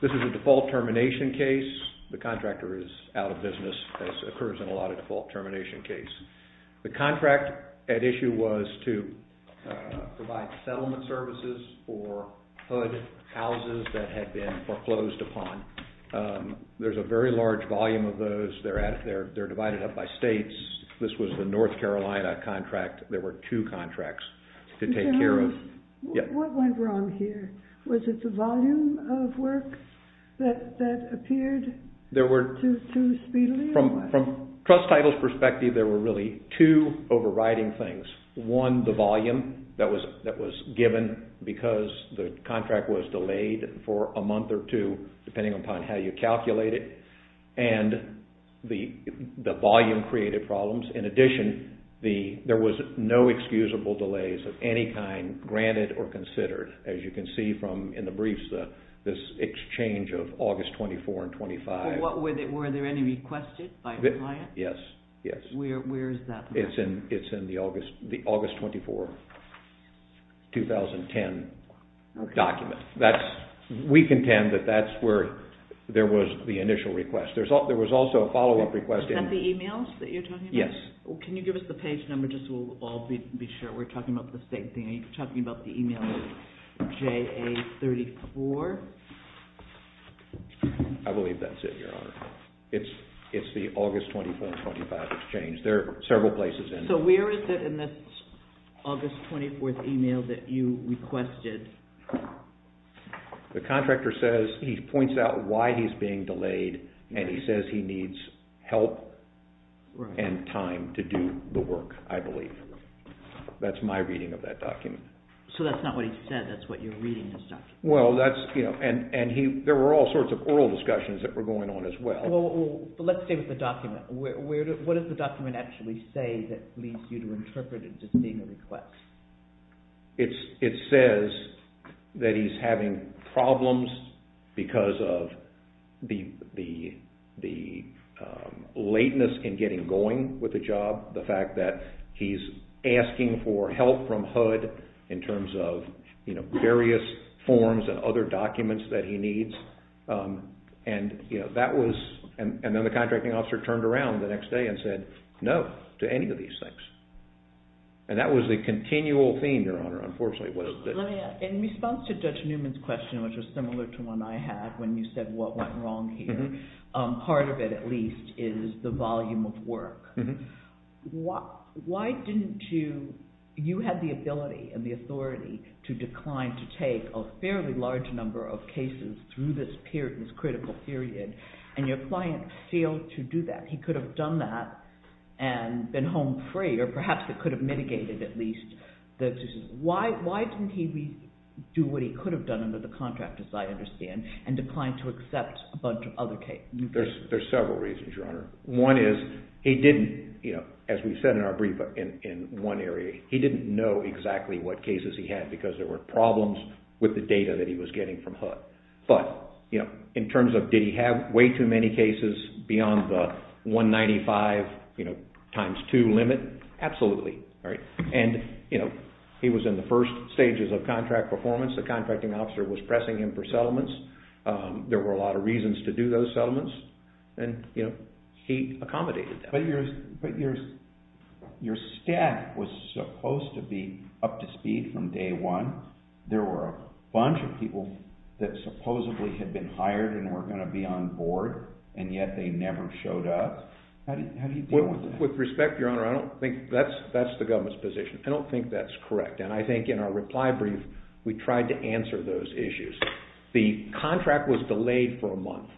This is a default termination case. The contractor is out of business as occurs in a lot of default termination cases. The contract at issue was to provide settlement services for HUD houses that had been foreclosed upon. There's a very large volume of those. They're divided up by states. This was the North Carolina contract. There were two contracts to take care of. What went wrong here? Was it the volume of work that appeared too speedily? From Trust Title's perspective, there were really two overriding things. One, the volume that was given because the contract was delayed for a month or two depending upon how you calculate it and the volume created problems. In addition, there was no excusable delays of any kind granted or considered as you can see in the briefs, this exchange of August 24 and 25. Were there any requested by the client? Yes. Where is that? It's in the August 24, 2010 document. We contend that that's where there was the initial request. There was also a follow-up request. Is that the email that you're talking about? Yes. Can you give us the page number just so we'll all be sure we're talking about the same thing? Are you talking about the email JA34? I believe that's it, Your Honor. It's the August 24 and 25 exchange. There are several places in it. So where is it in this August 24th email that you requested? The contractor says he points out why he's being delayed and he says he needs help and time to do the work, I believe. That's my reading of that document. So that's not what he said. That's what you're reading in this document. There were all sorts of oral discussions that were going on as well. Let's stay with the document. What does the document actually say that leads you to interpret it as being a request? It says that he's having problems because of the lateness in getting going with the job, the fact that he's asking for help from HUD in terms of various forms and other documents that he needs. And then the contracting officer turned around the next day and said no to any of these things. And that was the continual theme, Your Honor, unfortunately. In response to Judge Newman's question, which was similar to one I had when you said what went wrong here, part of it at least is the volume of work. Why didn't you – you had the ability and the authority to decline to take a fairly large number of cases through this period, this critical period, and your client failed to do that. He could have done that and been home free, or perhaps it could have mitigated at least the – why didn't he do what he could have done under the contract, as I understand, and declined to accept a bunch of other cases? There's several reasons, Your Honor. One is he didn't, as we said in our brief in one area, he didn't know exactly what cases he had because there were problems with the data that he was getting from HUD. But in terms of did he have way too many cases beyond the 195 times two limit, absolutely. And he was in the first stages of contract performance. The contracting officer was pressing him for settlements. There were a lot of reasons to do those settlements, and he accommodated them. But your staff was supposed to be up to speed from day one. There were a bunch of people that supposedly had been hired and were going to be on board, and yet they never showed up. How do you deal with that? With respect, Your Honor, I don't think that's the government's position. I don't think that's correct, and I think in our reply brief we tried to answer those issues. The contract was delayed for a month.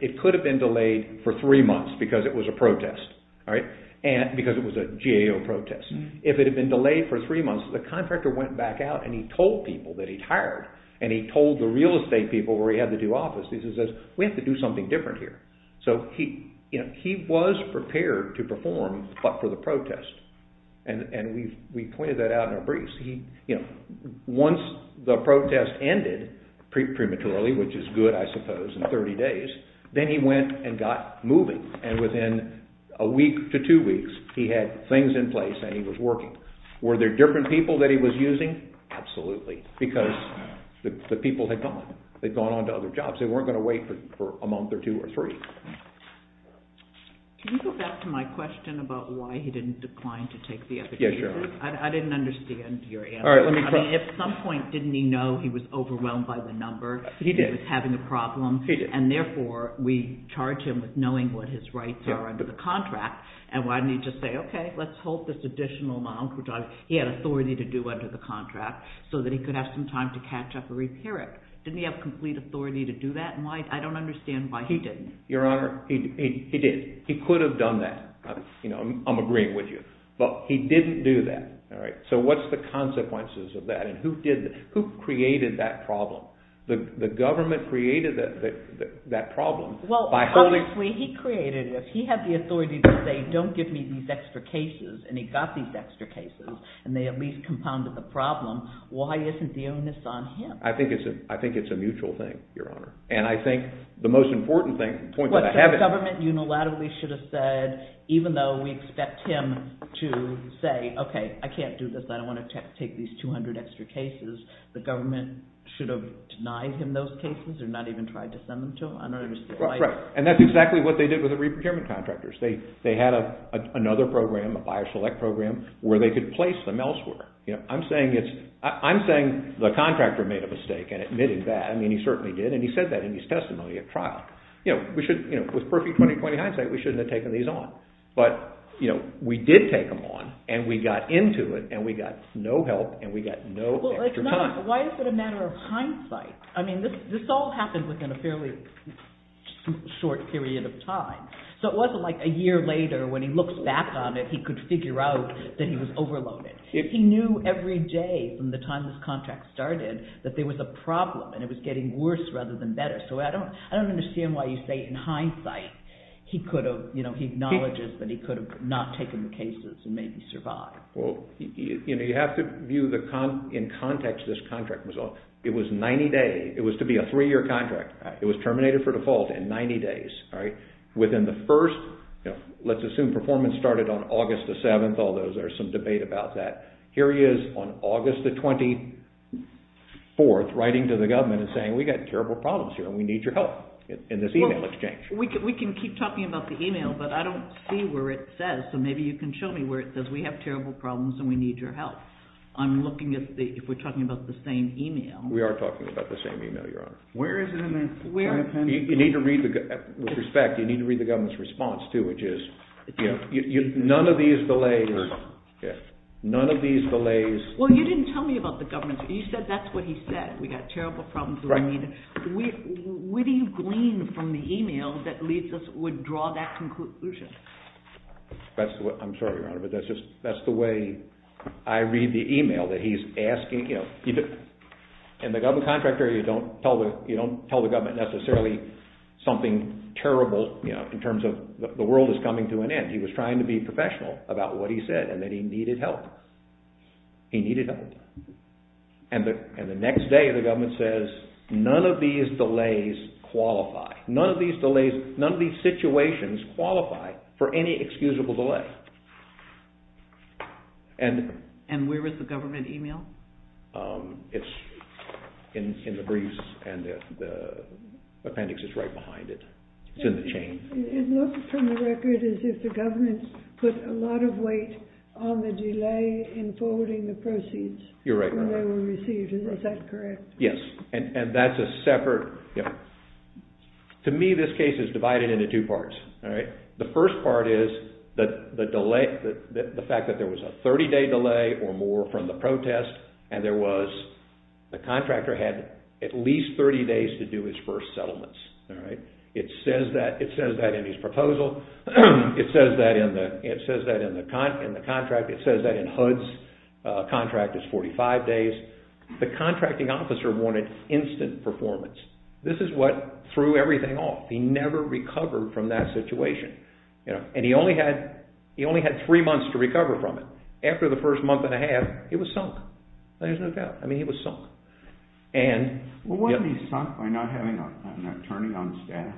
It could have been delayed for three months because it was a protest, because it was a GAO protest. If it had been delayed for three months, the contractor went back out and he told people that he'd hired, and he told the real estate people where he had the two offices, he says, we have to do something different here. So he was prepared to perform but for the protest, and we pointed that out in our briefs. Once the protest ended prematurely, which is good, I suppose, in 30 days, then he went and got moving, and within a week to two weeks he had things in place and he was working. Were there different people that he was using? Absolutely, because the people had gone. They'd gone on to other jobs. They weren't going to wait for a month or two or three. Can you go back to my question about why he didn't decline to take the application? I didn't understand your answer. If at some point didn't he know he was overwhelmed by the number, he was having a problem, and therefore we charge him with knowing what his rights are under the contract, and why didn't he just say, okay, let's hold this additional amount, which he had authority to do under the contract, so that he could have some time to catch up and repair it. Didn't he have complete authority to do that, and I don't understand why he didn't. Your Honor, he did. He could have done that. I'm agreeing with you. But he didn't do that. So what's the consequences of that, and who created that problem? The government created that problem. Well, obviously he created it. If he had the authority to say, don't give me these extra cases, and he got these extra cases, and they at least compounded the problem, why isn't the onus on him? I think it's a mutual thing, Your Honor. And I think the most important point that I have is… Even though we expect him to say, okay, I can't do this, I don't want to take these 200 extra cases, the government should have denied him those cases or not even tried to send them to him? I don't understand why… Right. And that's exactly what they did with the re-procurement contractors. They had another program, a buyer select program, where they could place them elsewhere. I'm saying the contractor made a mistake in admitting that. I mean, he certainly did, and he said that in his testimony at trial. With perfect 20-20 hindsight, we shouldn't have taken these on. But we did take them on, and we got into it, and we got no help, and we got no extra time. Why is it a matter of hindsight? I mean, this all happened within a fairly short period of time. So it wasn't like a year later when he looks back on it, he could figure out that he was overloaded. He knew every day from the time this contract started that there was a problem, and it was getting worse rather than better. So I don't understand why you say in hindsight he acknowledges that he could have not taken the cases and maybe survived. Well, you have to view in context this contract. It was 90 days. It was to be a three-year contract. It was terminated for default in 90 days. Within the first, let's assume performance started on August the 7th, although there's some debate about that. Here he is on August the 24th writing to the government and saying, we've got terrible problems here, and we need your help in this email exchange. We can keep talking about the email, but I don't see where it says, so maybe you can show me where it says we have terrible problems and we need your help. I'm looking at if we're talking about the same email. We are talking about the same email, Your Honor. Where is it in there? With respect, you need to read the government's response, too, which is none of these delays. Well, you didn't tell me about the government. You said that's what he said, we've got terrible problems. Where do you glean from the email that would draw that conclusion? I'm sorry, Your Honor, but that's the way I read the email that he's asking. In the government contract area, you don't tell the government necessarily something terrible in terms of the world is coming to an end. He was trying to be professional about what he said and that he needed help. He needed help. And the next day, the government says, none of these delays qualify. None of these delays, none of these situations qualify for any excusable delay. And where is the government email? It's in the briefs and the appendix is right behind it. It's in the chain. It looked from the record as if the government put a lot of weight on the delay in forwarding the proceeds when they were received. Is that correct? Yes, and that's a separate... To me, this case is divided into two parts. The first part is the fact that there was a 30-day delay or more from the protest and the contractor had at least 30 days to do his first settlements. It says that in his proposal. It says that in the contract. It says that in HUD's contract, it's 45 days. The contracting officer wanted instant performance. This is what threw everything off. He never recovered from that situation. And he only had three months to recover from it. After the first month and a half, it was sunk. There's no doubt. I mean, he was sunk. Well, wasn't he sunk by not having an attorney on staff?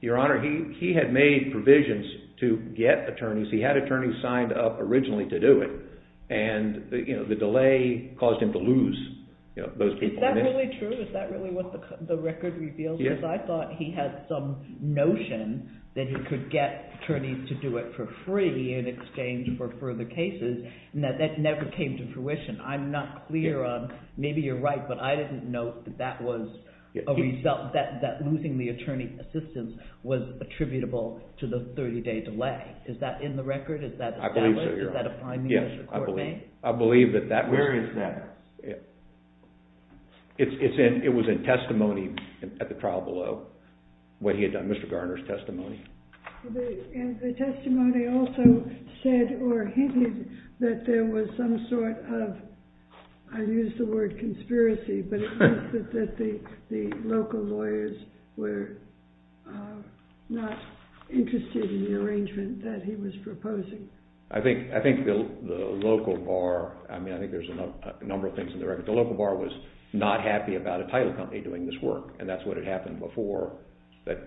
Your Honor, he had made provisions to get attorneys. He had attorneys signed up originally to do it. And the delay caused him to lose those people. Is that really true? Is that really what the record reveals? Yes. I thought he had some notion that he could get attorneys to do it for free in exchange for further cases, and that that never came to fruition. I'm not clear on... Maybe you're right, but I didn't know that that was a result, that losing the attorney's assistance was attributable to the 30-day delay. Is that in the record? Is that established? Is that a finding that the court made? Where is that? It was in testimony at the trial below, what he had done, Mr. Garner's testimony. And the testimony also said or hinted that there was some sort of, I used the word conspiracy, but that the local lawyers were not interested in the arrangement that he was proposing. I think the local bar, I mean, I think there's a number of things in the record. The local bar was not happy about a title company doing this work. And that's what had happened before that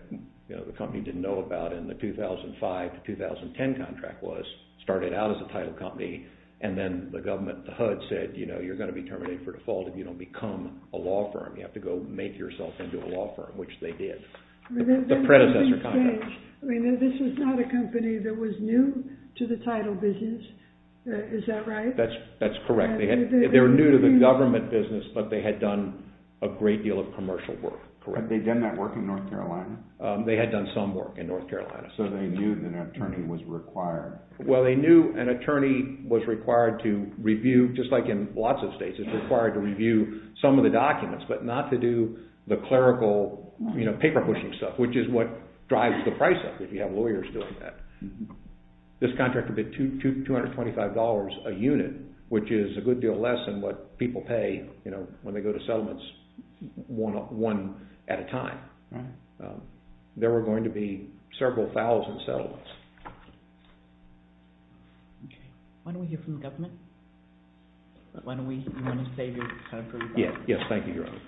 the company didn't know about in the 2005 to 2010 contract was started out as a title company. And then the government, the HUD said, you know, you're going to be terminated for default if you don't become a law firm. You have to go make yourself into a law firm, which they did. The predecessor contract. This was not a company that was new to the title business. Is that right? That's correct. They were new to the government business, but they had done a great deal of commercial work. Had they done that work in North Carolina? They had done some work in North Carolina. So they knew that an attorney was required. Well, they knew an attorney was required to review, just like in lots of states, is required to review some of the documents, but not to do the clerical, you know, paper pushing stuff, which is what drives the price up if you have lawyers doing that. This contract would be $225 a unit, which is a good deal less than what people pay, you know, when they go to settlements one at a time. There were going to be several thousand settlements. Okay. Why don't we hear from the government? Why don't we, you want to say your name? Yes, thank you, Your Honor.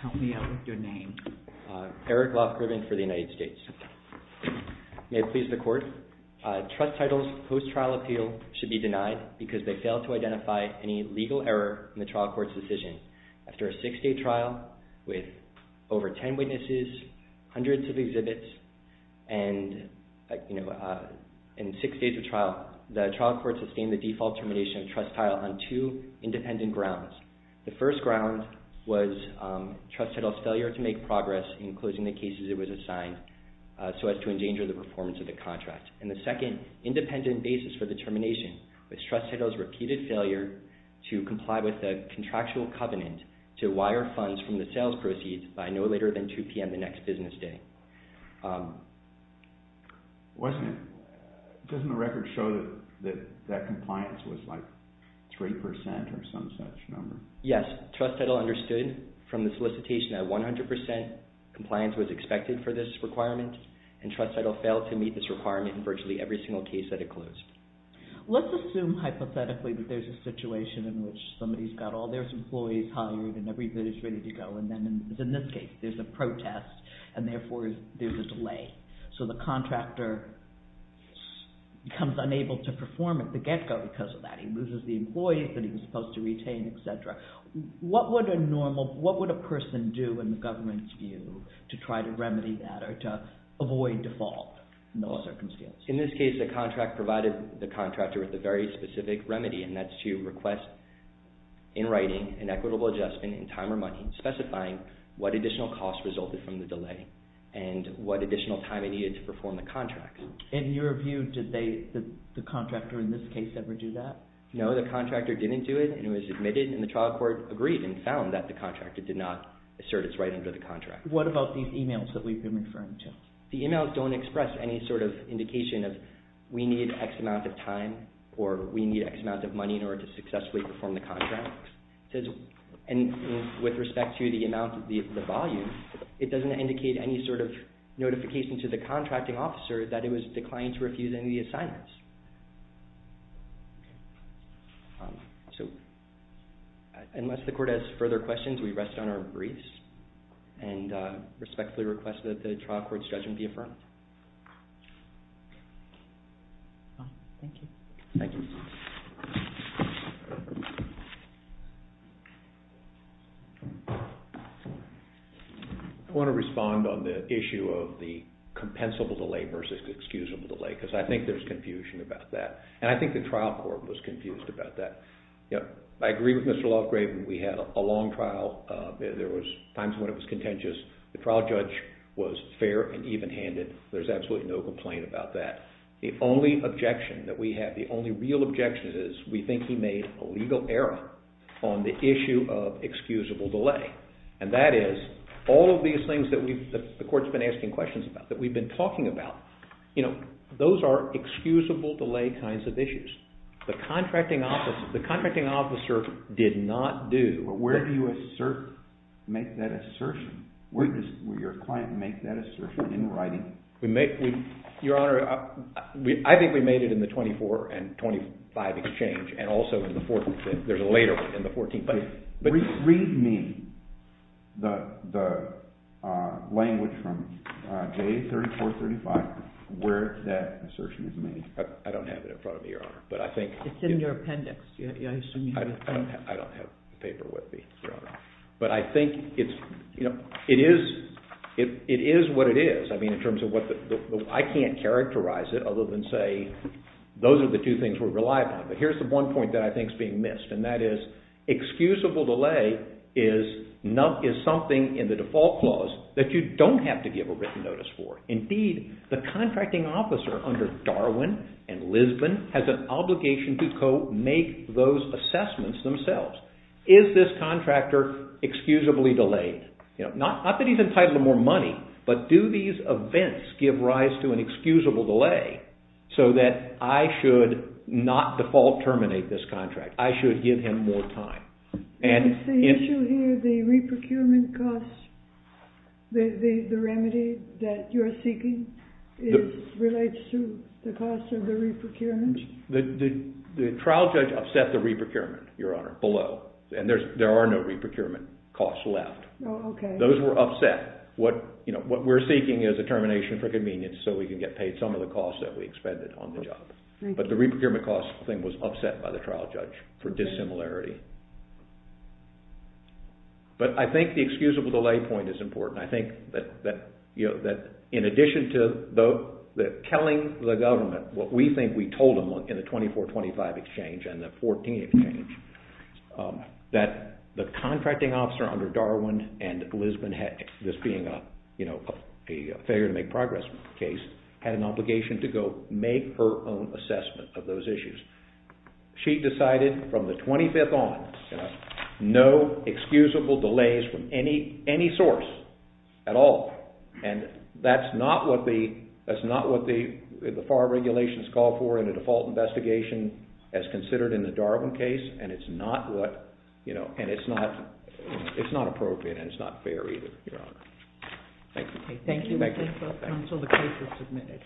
Help me out with your name. Eric Loft Griffin for the United States. May it please the Court. Trust titles post-trial appeal should be denied because they fail to identify any legal error in the trial court's decision. After a six-day trial with over ten witnesses, hundreds of exhibits, and, you know, in six days of trial, the trial court sustained the default termination of trust title on two independent grounds. The first ground was trust title's failure to make progress in closing the cases it was assigned so as to endanger the performance of the contract. And the second independent basis for the termination was trust title's repeated failure to comply with the contractual covenant to wire funds from the sales proceeds by no later than 2 p.m. the next business day. Wasn't it, doesn't the record show that that compliance was like 3% or some such number? Yes, trust title understood from the solicitation that 100% compliance was expected for this requirement, and trust title failed to meet this requirement in virtually every single case that it closed. Let's assume hypothetically that there's a situation in which somebody's got all their employees hired and everybody's ready to go, and then, in this case, there's a protest, and therefore there's a delay. So the contractor becomes unable to perform at the get-go because of that. He loses the employees that he was supposed to retain, etc. What would a normal, what would a person do in the government's view to try to remedy that or to avoid default in those circumstances? In this case, the contract provided the contractor with a very specific remedy, and that's to request, in writing, an equitable adjustment in time or money specifying what additional cost resulted from the delay and what additional time it needed to perform the contract. In your view, did the contractor in this case ever do that? No, the contractor didn't do it, and it was admitted, and the trial court agreed and found that the contractor did not assert its right under the contract. What about these emails that we've been referring to? The emails don't express any sort of indication of, we need X amount of time or we need X amount of money in order to successfully perform the contract. And with respect to the amount, the volume, it doesn't indicate any sort of notification to the contracting officer that it was declined to refuse any of the assignments. So, unless the court has further questions, we rest on our briefs and respectfully request that the trial court's judgment be affirmed. Thank you. Thank you. I want to respond on the issue of the compensable delay versus excusable delay, because I think there's confusion about that, and I think the trial court was confused about that. I agree with Mr. Lofgraven. We had a long trial. There was times when it was contentious. The trial judge was fair and even-handed. There's absolutely no complaint about that. The only objection that we have, the only real objection is we think he made a legal error on the issue of excusable delay. And that is, all of these things that the court's been asking questions about, that we've been talking about, those are excusable delay kinds of issues. The contracting officer did not do... Where do you assert, make that assertion? Where does your client make that assertion in writing? Your Honor, I think we made it in the 24 and 25 exchange, and also in the 14th. There's a later one in the 14th. Read me the language from J3435 where that assertion is made. I don't have it in front of me, Your Honor. It's in your appendix. But I think it is what it is. I mean, in terms of what the... I can't characterize it other than say, those are the two things we rely upon. But here's the one point that I think is being missed, and that is, excusable delay is something in the default clause that you don't have to give a written notice for. Indeed, the contracting officer under Darwin and Lisbon has an obligation to co-make those assessments themselves. Is this contractor excusably delayed? Not that he's entitled to more money, but do these events give rise to an excusable delay so that I should not default terminate this contract? I should give him more time? The issue here, the re-procurement cost, the remedy that you're seeking, relates to the cost of the re-procurement? The trial judge upset the re-procurement, Your Honor, below. And there are no re-procurement costs left. Those were upset. What we're seeking is a termination for convenience so we can get paid some of the costs that we expended on the job. But the re-procurement cost thing was upset by the trial judge for dissimilarity. But I think the excusable delay point is important. I think that in addition to telling the government what we think we told them in the 2425 exchange and the 14 exchange, that the contracting officer under Darwin and Lisbon, this being a failure to make progress case, had an obligation to go make her own assessment of those issues. She decided from the 25th on, no excusable delays from any source at all. And that's not what the FAR regulations call for in a default investigation as considered in the Darwin case, and it's not appropriate and it's not fair either, Your Honor. Thank you. Thank you, Mr. Felton. So the case was submitted.